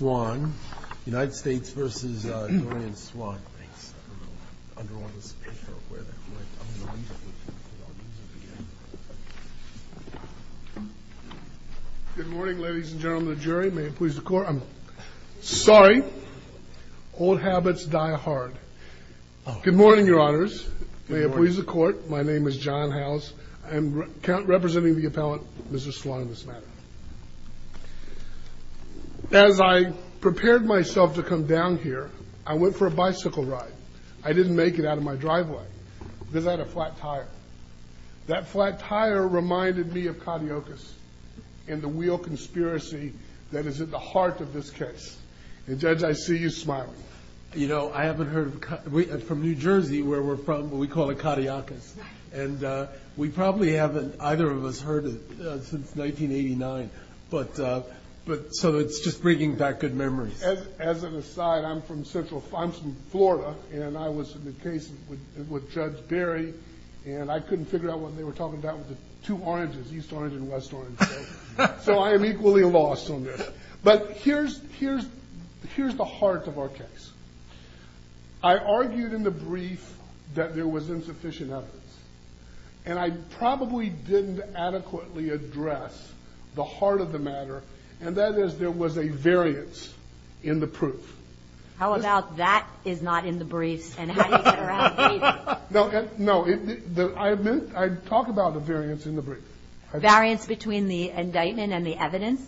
Good morning ladies and gentlemen of the jury. May it please the court. I'm sorry, old habits die hard. Good morning your honors. May it please the court. My name is John Howes. I'm representing the appellant, Mrs. Swan, this matter. As I prepared myself to come down here, I went for a bicycle ride. I didn't make it out of my driveway because I had a flat tire. That flat tire reminded me of cardiacus and the wheel conspiracy that is at the heart of this case. And judge, I see you smiling. You know, I haven't heard from New Jersey where we're from, but we call it cardiacus. And we probably haven't, either of us, heard it since 1989. But so it's just bringing back good memories. As an aside, I'm from Central, I'm from Florida, and I was in the case with Judge Berry, and I couldn't figure out what they were talking about with the two oranges, east orange and west orange. So I am equally lost on this. But here's the heart of our case. I argued in the brief that there was insufficient evidence, and I probably didn't adequately address the heart of the matter, and that is there was a variance in the proof. How about that is not in the briefs, and how do you get around that? No, I talk about the variance in the brief. Variance between the indictment and the evidence?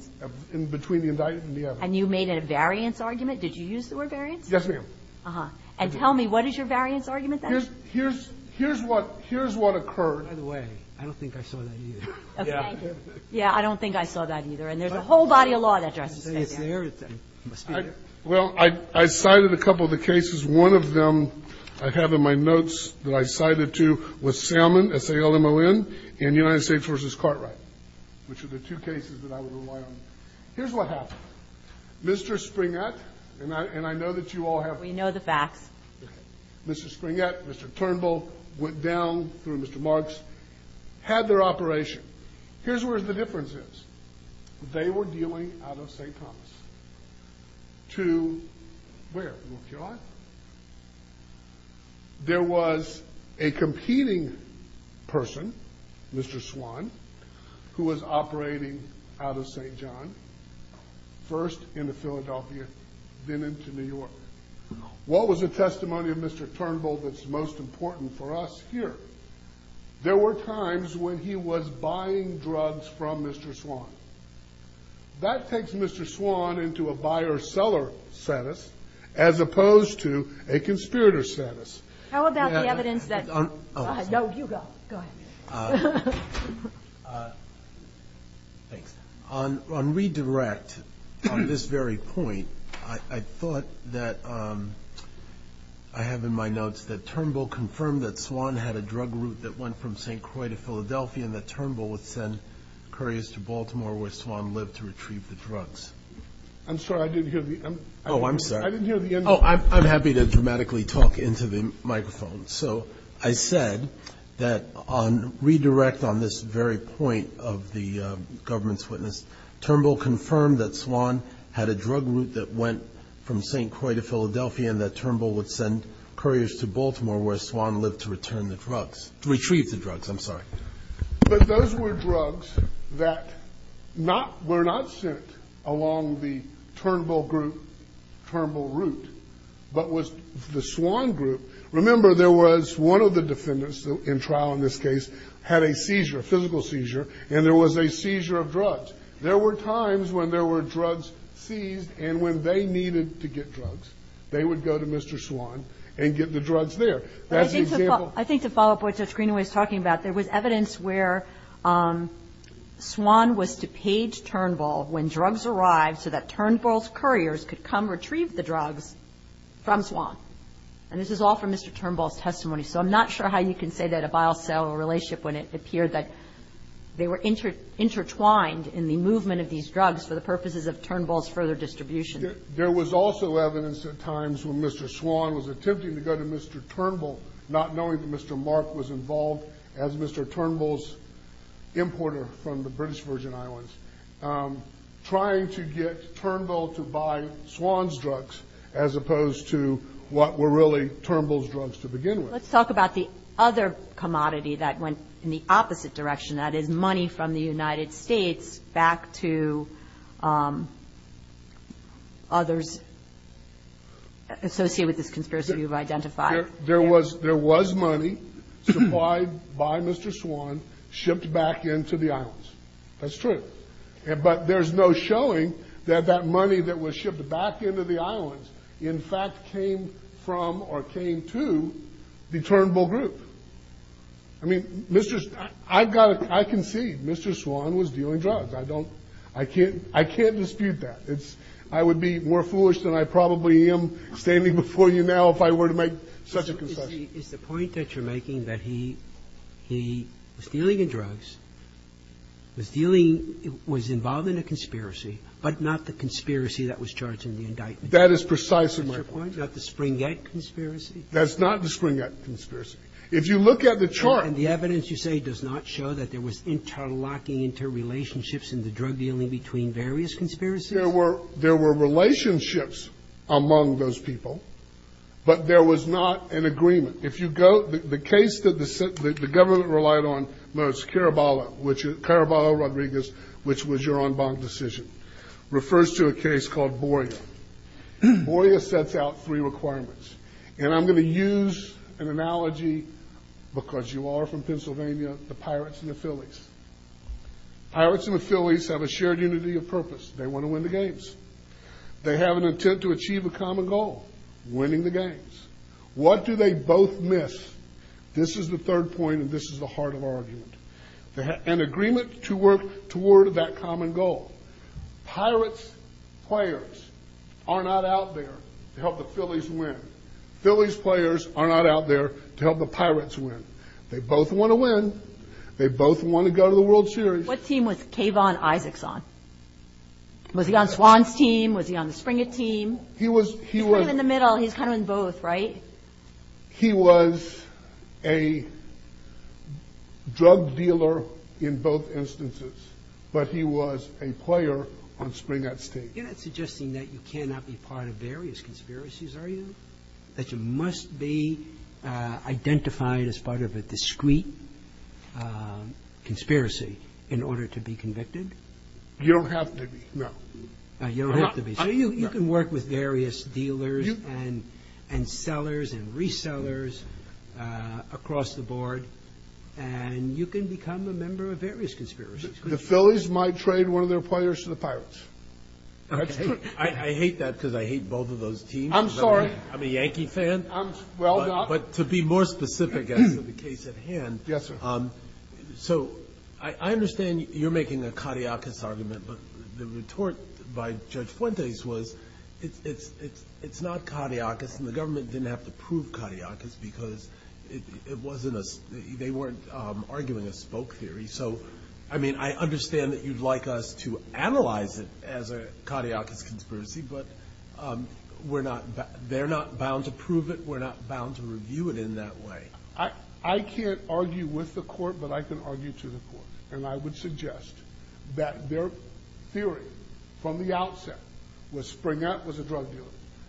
Between the indictment and the evidence. And you made a variance argument? Did you use the word variance? Yes, ma'am. Uh-huh. And tell me, what is your variance argument then? Here's what occurred. By the way, I don't think I saw that either. Okay. Yeah, I don't think I saw that either. And there's a whole body of law that doesn't say that. Well, I cited a couple of the cases. One of them I have in my notes that I cited two was Salmon, S-A-L-M-O-N, and United States v. Cartwright, which are the two cases that I would rely on. Here's what happened. Mr. Springett, and I know that you all have... We know the facts. Okay. Mr. Springett, Mr. Turnbull went down through Mr. Marks, had their operation. Here's where the difference is. They were dealing out of St. Thomas to where? North Carolina? There was a competing person, Mr. Swan, who was operating out of St. John, first into Philadelphia, then into New York. What was the testimony of Mr. Turnbull that's most important for us here? There were times when he was buying drugs from Mr. Swan. That takes Mr. Swan into a buyer-seller status as opposed to a conspirator status. How about the evidence that... Go ahead. No, you go. Go ahead. Thanks. On redirect, on this very point, I thought that I have in my notes that Turnbull confirmed that Swan had a drug route that went from St. Croix to Philadelphia and that Turnbull would send couriers to Baltimore where Swan lived to retrieve the drugs. I'm sorry. I didn't hear the end of it. Oh, I'm sorry. I didn't hear the end of it. Oh, I'm happy to dramatically talk into the microphone. So I said that on redirect on this very point of the government's witness, Turnbull confirmed that Swan had a drug route that went from St. Croix to Philadelphia and that Turnbull would send couriers to Baltimore where Swan lived to return the drugs, to retrieve the drugs. I'm sorry. But those were drugs that were not sent along the Turnbull group, Turnbull route, but was the Swan group. Remember, there was one of the defendants in trial in this case had a seizure, a physical seizure, and there was a seizure of drugs. There were times when there were drugs seized and when they needed to get drugs. They would go to Mr. Swan and get the drugs there. That's an example. I think to follow up what Judge Greenaway is talking about, there was evidence where Swan was to page Turnbull when drugs arrived so that Turnbull's couriers could come retrieve the drugs from Swan. And this is all from Mr. Turnbull's testimony. So I'm not sure how you can say that a bile cell relationship when it appeared that they were intertwined in the movement of these drugs for the purposes of Turnbull's further distribution. There was also evidence at times when Mr. Swan was attempting to go to Mr. Turnbull, not knowing that Mr. Mark was involved as Mr. Turnbull's importer from the British Virgin Islands, trying to get Turnbull to buy Swan's drugs as opposed to what were really Turnbull's drugs to begin with. Let's talk about the other commodity that went in the opposite direction. That is money from the United States back to others associated with this conspiracy you've identified. There was money supplied by Mr. Swan shipped back into the islands. That's true. But there's no showing that that money that was shipped back into the islands, in fact, came from or came to the Turnbull group. I mean, I can see Mr. Swan was dealing drugs. I can't dispute that. I would be more foolish than I probably am standing before you now if I were to make such a concession. Is the point that you're making that he was dealing in drugs, was dealing, was involved in a conspiracy, but not the conspiracy that was charged in the indictment? That is precisely my point. Not the Springett conspiracy? That's not the Springett conspiracy. If you look at the chart. And the evidence you say does not show that there was interlocking, interrelationships in the drug dealing between various conspiracies? There were relationships among those people, but there was not an agreement. If you go, the case that the government relied on most, Caraballo, Rodriguez, which was your en banc decision, refers to a case called Boyer. Boyer sets out three requirements. And I'm going to use an analogy because you are from Pennsylvania, the Pirates and the Phillies. Pirates and the Phillies have a shared unity of purpose. They want to win the games. They have an intent to achieve a common goal, winning the games. What do they both miss? This is the third point, and this is the heart of our argument. An agreement to work toward that common goal. Pirates players are not out there to help the Phillies win. Phillies players are not out there to help the Pirates win. They both want to win. They both want to go to the World Series. What team was Kayvon Isaacs on? Was he on Swan's team? Was he on the Springer team? He was in the middle. He's kind of in both, right? He was a drug dealer in both instances, but he was a player on Springer's team. You're not suggesting that you cannot be part of various conspiracies, are you? That you must be identified as part of a discrete conspiracy in order to be convicted? You don't have to be, no. You don't have to be. You can work with various dealers and sellers and resellers across the board, and you can become a member of various conspiracies. The Phillies might trade one of their players to the Pirates. That's true. I hate that because I hate both of those teams. I'm sorry. I'm a Yankee fan. Well done. But to be more specific as to the case at hand. Yes, sir. So I understand you're making a cadiacus argument, but the retort by Judge Fuentes was it's not cadiacus, and the government didn't have to prove cadiacus because it wasn't a – they weren't arguing a spoke theory. So, I mean, I understand that you'd like us to analyze it as a cadiacus conspiracy, but we're not – they're not bound to prove it. We're not bound to review it in that way. I can't argue with the court, but I can argue to the court, and I would suggest that their theory from the outset was Springett was a drug dealer.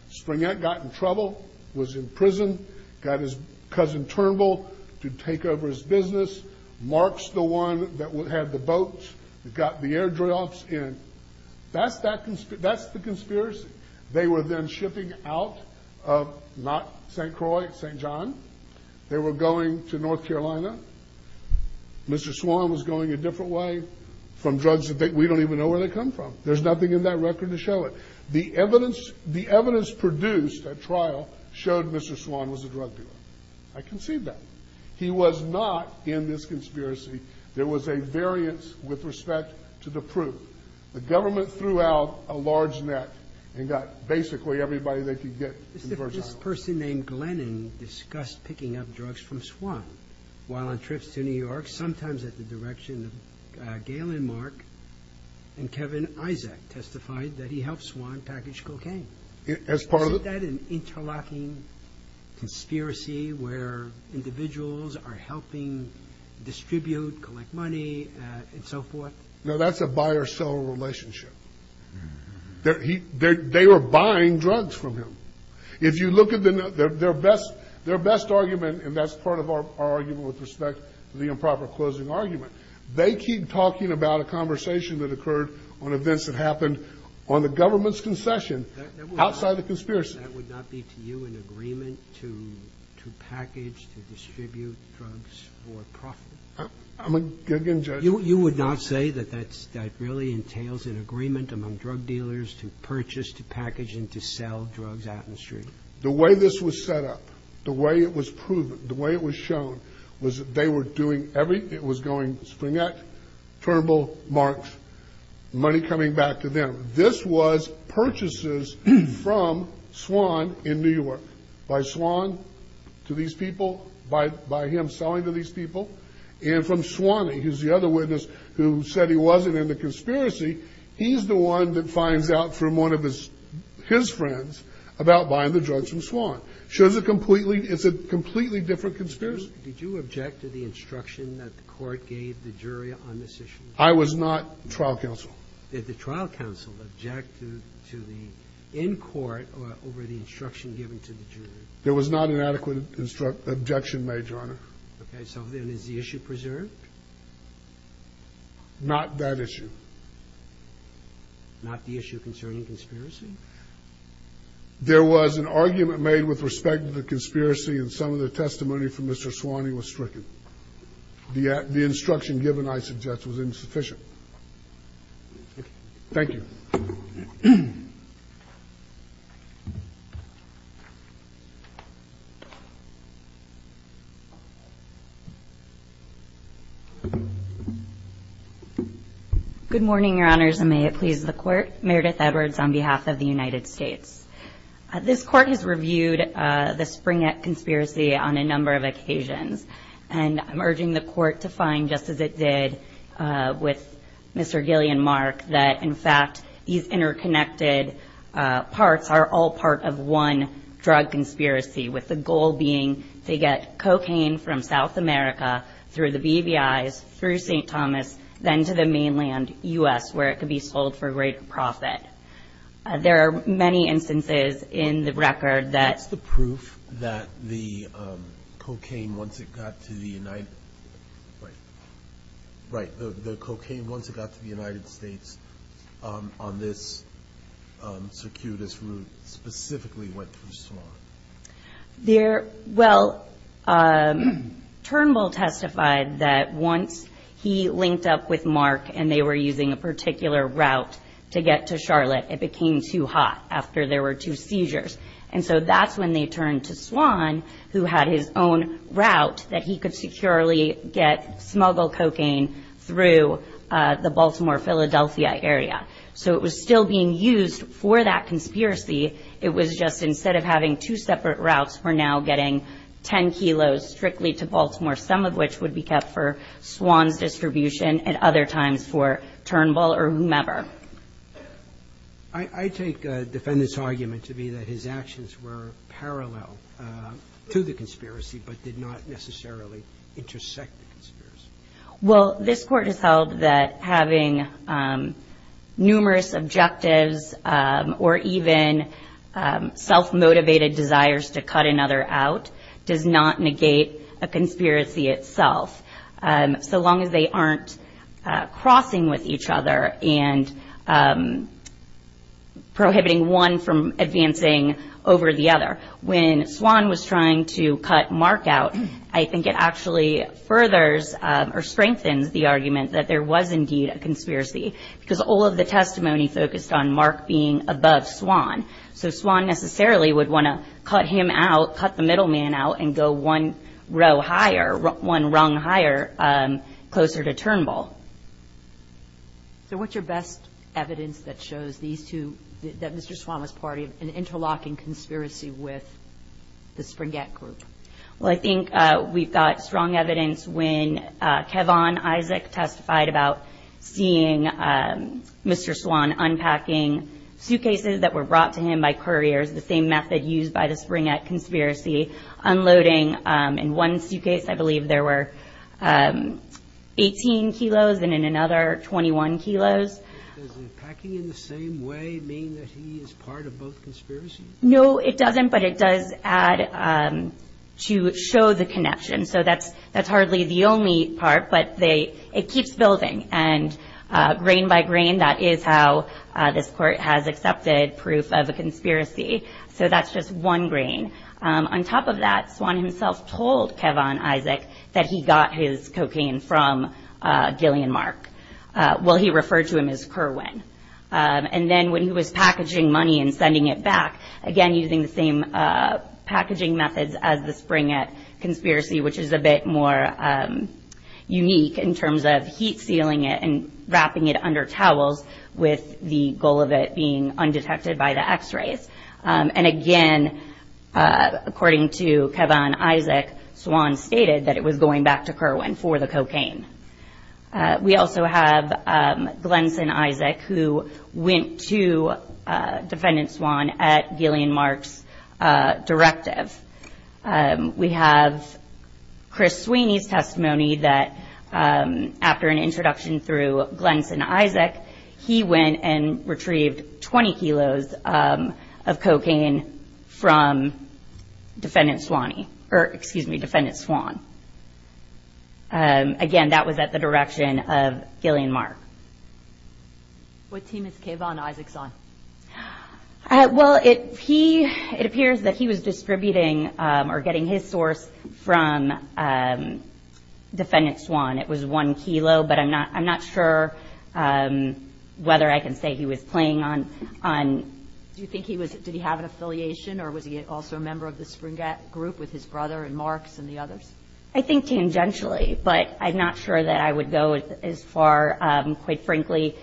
Springett got in trouble, was in prison, got his cousin Turnbull to take over his business, Marx the one that had the boats, got the air drafts in. That's the conspiracy. They were then shipping out of not St. Croix, St. John. They were going to North Carolina. Mr. Swan was going a different way from drugs that we don't even know where they come from. There's nothing in that record to show it. The evidence produced at trial showed Mr. Swan was a drug dealer. I can see that. He was not in this conspiracy. There was a variance with respect to the proof. The government threw out a large net and got basically everybody they could get. This person named Glennon discussed picking up drugs from Swan while on trips to New York, sometimes at the direction of Gail and Mark, and Kevin Isaac testified that he helped Swan package cocaine. Is that an interlocking conspiracy where individuals are helping distribute, collect money, and so forth? No, that's a buyer-seller relationship. They were buying drugs from him. If you look at their best argument, and that's part of our argument with respect to the improper closing argument, they keep talking about a conversation that occurred on events that happened on the government's concession outside the conspiracy. That would not be to you an agreement to package, to distribute drugs for profit? I'm a good judge. You would not say that that really entails an agreement among drug dealers to purchase, to package, and to sell drugs out in the street? The way this was set up, the way it was proven, the way it was shown, was that they were doing everything. It was going to Spring Act, Turnbull, Marks, money coming back to them. This was purchases from Swan in New York, by Swan to these people, by him selling to these people, and from Swan, who's the other witness who said he wasn't in the conspiracy, he's the one that finds out from one of his friends about buying the drugs from Swan. So it's a completely different conspiracy. Did you object to the instruction that the court gave the jury on this issue? I was not trial counsel. Did the trial counsel object to the in-court or over the instruction given to the jury? There was not an adequate objection made, Your Honor. Okay. So then is the issue preserved? Not that issue. Not the issue concerning conspiracy? There was an argument made with respect to the conspiracy, and some of the testimony from Mr. Swan was stricken. The instruction given, I suggest, was insufficient. Thank you. Good morning, Your Honors, and may it please the Court. Meredith Edwards on behalf of the United States. This Court has reviewed the Spring Act conspiracy on a number of occasions, and I'm urging the Court to find, just as it did with Mr. Gilly and Mark, that, in fact, these interconnected parts are all part of one drug conspiracy, with the goal being to get cocaine from South America through the BBIs, through St. Thomas, then to the mainland U.S., where it could be sold for a greater profit. There are many instances in the record that the cocaine, once it got to the United States, on this circuitous route, specifically went through Swan. Well, Turnbull testified that once he linked up with Mark and they were using a particular route to get to Charlotte, it became too hot after there were two seizures. And so that's when they turned to Swan, who had his own route, that he could securely get smuggle cocaine through the Baltimore-Philadelphia area. So it was still being used for that conspiracy. It was just instead of having two separate routes, we're now getting 10 kilos strictly to Baltimore, some of which would be kept for Swan's distribution and other times for Turnbull or whomever. I take the defendant's argument to be that his actions were parallel to the conspiracy but did not necessarily intersect the conspiracy. Well, this Court has held that having numerous objectives or even self-motivated desires to cut another out does not negate a conspiracy itself, so long as they aren't crossing with each other and prohibiting one from advancing over the other. When Swan was trying to cut Mark out, I think it actually furthers or strengthens the argument that there was indeed a conspiracy because all of the testimony focused on Mark being above Swan. So Swan necessarily would want to cut him out, cut the middle man out, and go one row higher, one rung higher, closer to Turnbull. So what's your best evidence that shows these two, that Mr. Swan was part of an interlocking conspiracy with the Springett group? Well, I think we've got strong evidence when Kevon Isaac testified about seeing Mr. Swan unpacking suitcases that were brought to him by couriers, the same method used by the Springett conspiracy, unloading in one suitcase I believe there were 18 kilos and in another 21 kilos. Does unpacking in the same way mean that he is part of both conspiracies? No, it doesn't, but it does add to show the connection. So that's hardly the only part, but it keeps building. And grain by grain, that is how this court has accepted proof of a conspiracy. So that's just one grain. On top of that, Swan himself told Kevon Isaac that he got his cocaine from Gillian Mark. Well, he referred to him as Kerwin. And then when he was packaging money and sending it back, again using the same packaging methods as the Springett conspiracy, which is a bit more unique in terms of heat sealing it and wrapping it under towels with the goal of it being undetected by the x-rays. And again, according to Kevon Isaac, Swan stated that it was going back to Kerwin for the cocaine. We also have Glenson Isaac who went to Defendant Swan at Gillian Mark's directive. We have Chris Sweeney's testimony that after an introduction through Glenson Isaac, he went and retrieved 20 kilos of cocaine from Defendant Swan. Again, that was at the direction of Gillian Mark. What team is Kevon Isaac on? Well, it appears that he was distributing or getting his source from Defendant Swan. It was one kilo, but I'm not sure whether I can say he was playing on. Do you think he was – did he have an affiliation or was he also a member of the Springett group with his brother and Marks and the others? I think tangentially, but I'm not sure that I would go as far. Quite frankly,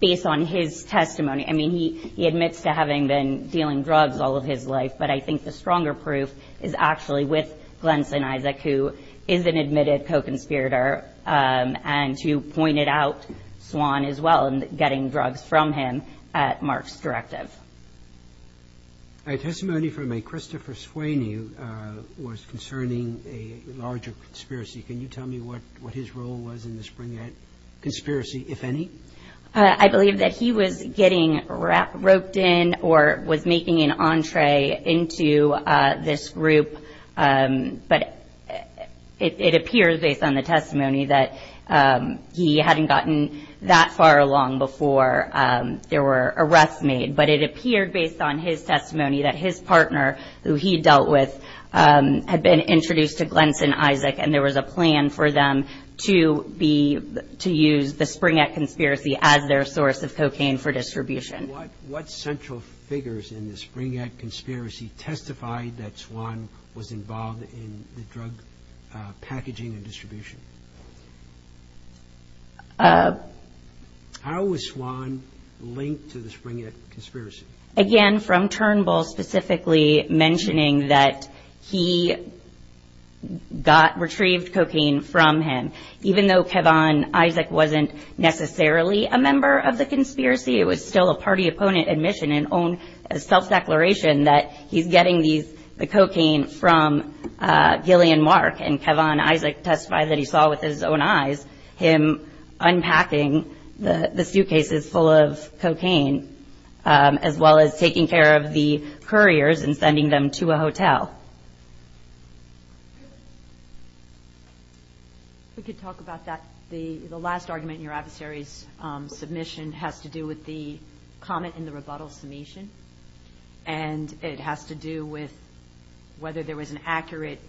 based on his testimony, I mean, he admits to having been dealing drugs all of his life, but I think the stronger proof is actually with Glenson Isaac, who is an admitted co-conspirator and who pointed out Swan as well and getting drugs from him at Mark's directive. A testimony from a Christopher Sweeney was concerning a larger conspiracy. Can you tell me what his role was in the Springett conspiracy, if any? I believe that he was getting roped in or was making an entree into this group, but it appears, based on the testimony, that he hadn't gotten that far along before there were arrests made. But it appeared, based on his testimony, that his partner, who he dealt with, had been introduced to Glenson Isaac, and there was a plan for them to use the Springett conspiracy as their source of cocaine for distribution. What central figures in the Springett conspiracy testified that Swan was involved in the drug packaging and distribution? How was Swan linked to the Springett conspiracy? Again, from Turnbull, specifically mentioning that he got retrieved cocaine from him. Even though Kevan Isaac wasn't necessarily a member of the conspiracy, it was still a party-opponent admission and own self-declaration that he's getting the cocaine from Gillian Mark, and Kevan Isaac testified that he saw with his own eyes him unpacking the suitcases full of cocaine as well as taking care of the couriers and sending them to a hotel. If we could talk about that. The last argument in your adversary's submission has to do with the comment in the rebuttal submission, and it has to do with whether there was an accurate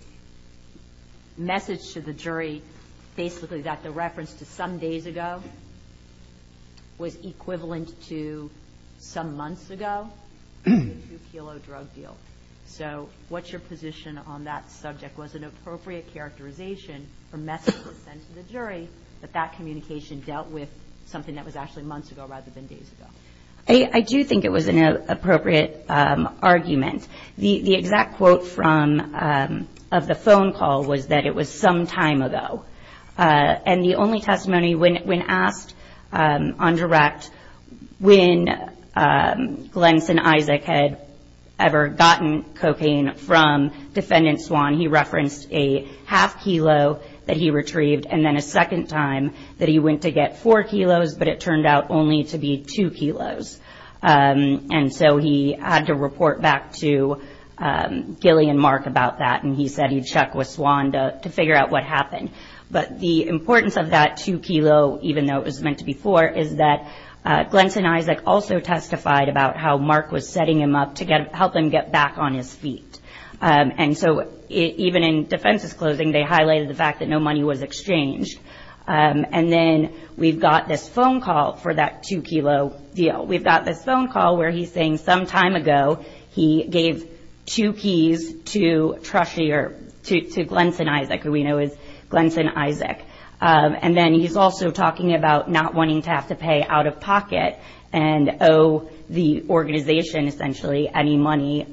message to the jury, basically that the reference to some days ago was equivalent to some months ago to the two-kilo drug deal. So what's your position on that subject? Was an appropriate characterization for messages sent to the jury that that communication dealt with something that was actually months ago rather than days ago? I do think it was an appropriate argument. The exact quote of the phone call was that it was some time ago, and the only testimony when asked on direct when Glennson Isaac had ever gotten cocaine from defendant Swan, he referenced a half kilo that he retrieved and then a second time that he went to get four kilos, but it turned out only to be two kilos. And so he had to report back to Gilly and Mark about that, and he said he'd check with Swan to figure out what happened. But the importance of that two kilo, even though it was meant to be four, is that Glennson Isaac also testified about how Mark was setting him up to help him get back on his feet. And so even in defense's closing, they highlighted the fact that no money was exchanged. And then we've got this phone call for that two kilo deal. We've got this phone call where he's saying some time ago he gave two keys to Glenson Isaac, who we know is Glennson Isaac. And then he's also talking about not wanting to have to pay out of pocket and owe the organization essentially any money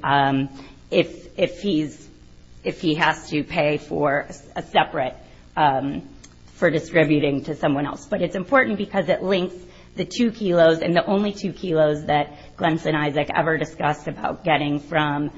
if he has to pay for a separate for distributing to someone else. But it's important because it links the two kilos and the only two kilos that Glennson Isaac ever discussed about getting from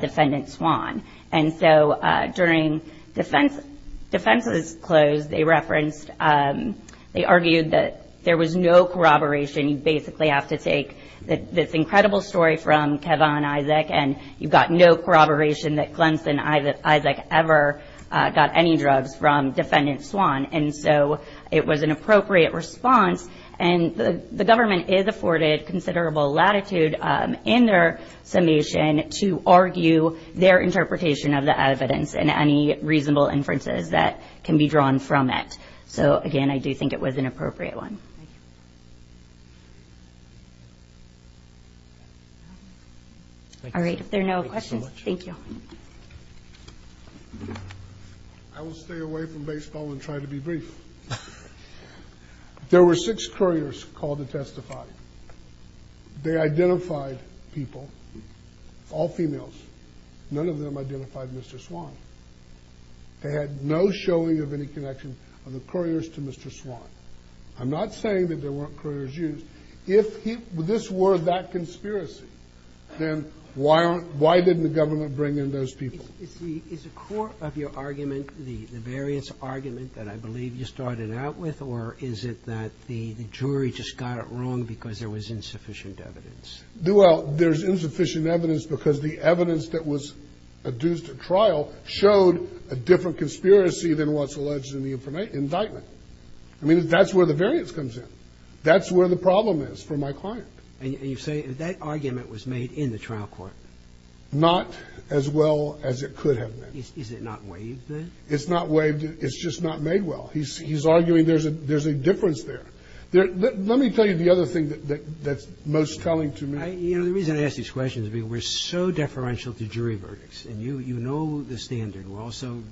defendant Swan. And so during defense's close, they referenced, they argued that there was no corroboration. And you basically have to take this incredible story from Kevon Isaac and you've got no corroboration that Glennson Isaac ever got any drugs from defendant Swan. And so it was an appropriate response. And the government is afforded considerable latitude in their summation to argue their interpretation of the evidence and any reasonable inferences that can be drawn from it. So again, I do think it was an appropriate one. All right, if there are no questions, thank you. I will stay away from baseball and try to be brief. There were six couriers called to testify. They identified people, all females. None of them identified Mr. Swan. They had no showing of any connection of the couriers to Mr. Swan. I'm not saying that there weren't couriers used. If this were that conspiracy, then why didn't the government bring in those people? Is the core of your argument the variance argument that I believe you started out with or is it that the jury just got it wrong because there was insufficient evidence? Well, there's insufficient evidence because the evidence that was adduced at trial showed a different conspiracy than what's alleged in the indictment. I mean, that's where the variance comes in. That's where the problem is for my client. And you say that argument was made in the trial court? Not as well as it could have been. Is it not waived then? It's not waived. It's just not made well. He's arguing there's a difference there. Let me tell you the other thing that's most telling to me. You know, the reason I ask these questions is because we're so deferential to jury verdicts. And you know the standard. We're also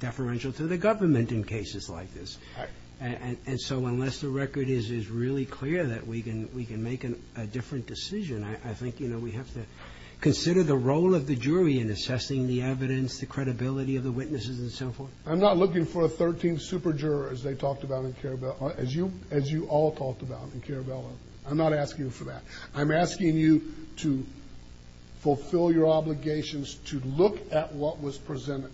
deferential to the government in cases like this. Right. And so unless the record is really clear that we can make a different decision, I think, you know, we have to consider the role of the jury in assessing the evidence, the credibility of the witnesses, and so forth. I'm not looking for a 13th super-juror, as they talked about in Karabell. As you all talked about in Karabell. I'm not asking you for that. I'm asking you to fulfill your obligations to look at what was presented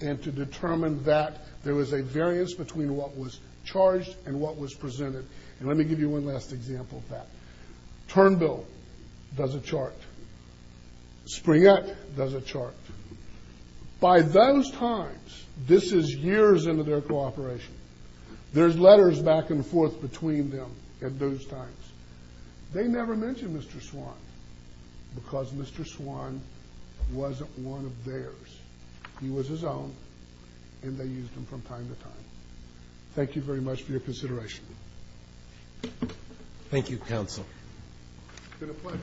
and to determine that there was a variance between what was charged and what was presented. And let me give you one last example of that. Turnbill does a chart. Springett does a chart. By those times, this is years into their cooperation, there's letters back and forth between them at those times. They never mentioned Mr. Swan because Mr. Swan wasn't one of theirs. He was his own, and they used him from time to time. Thank you very much for your consideration. Thank you, counsel. It's been a pleasure.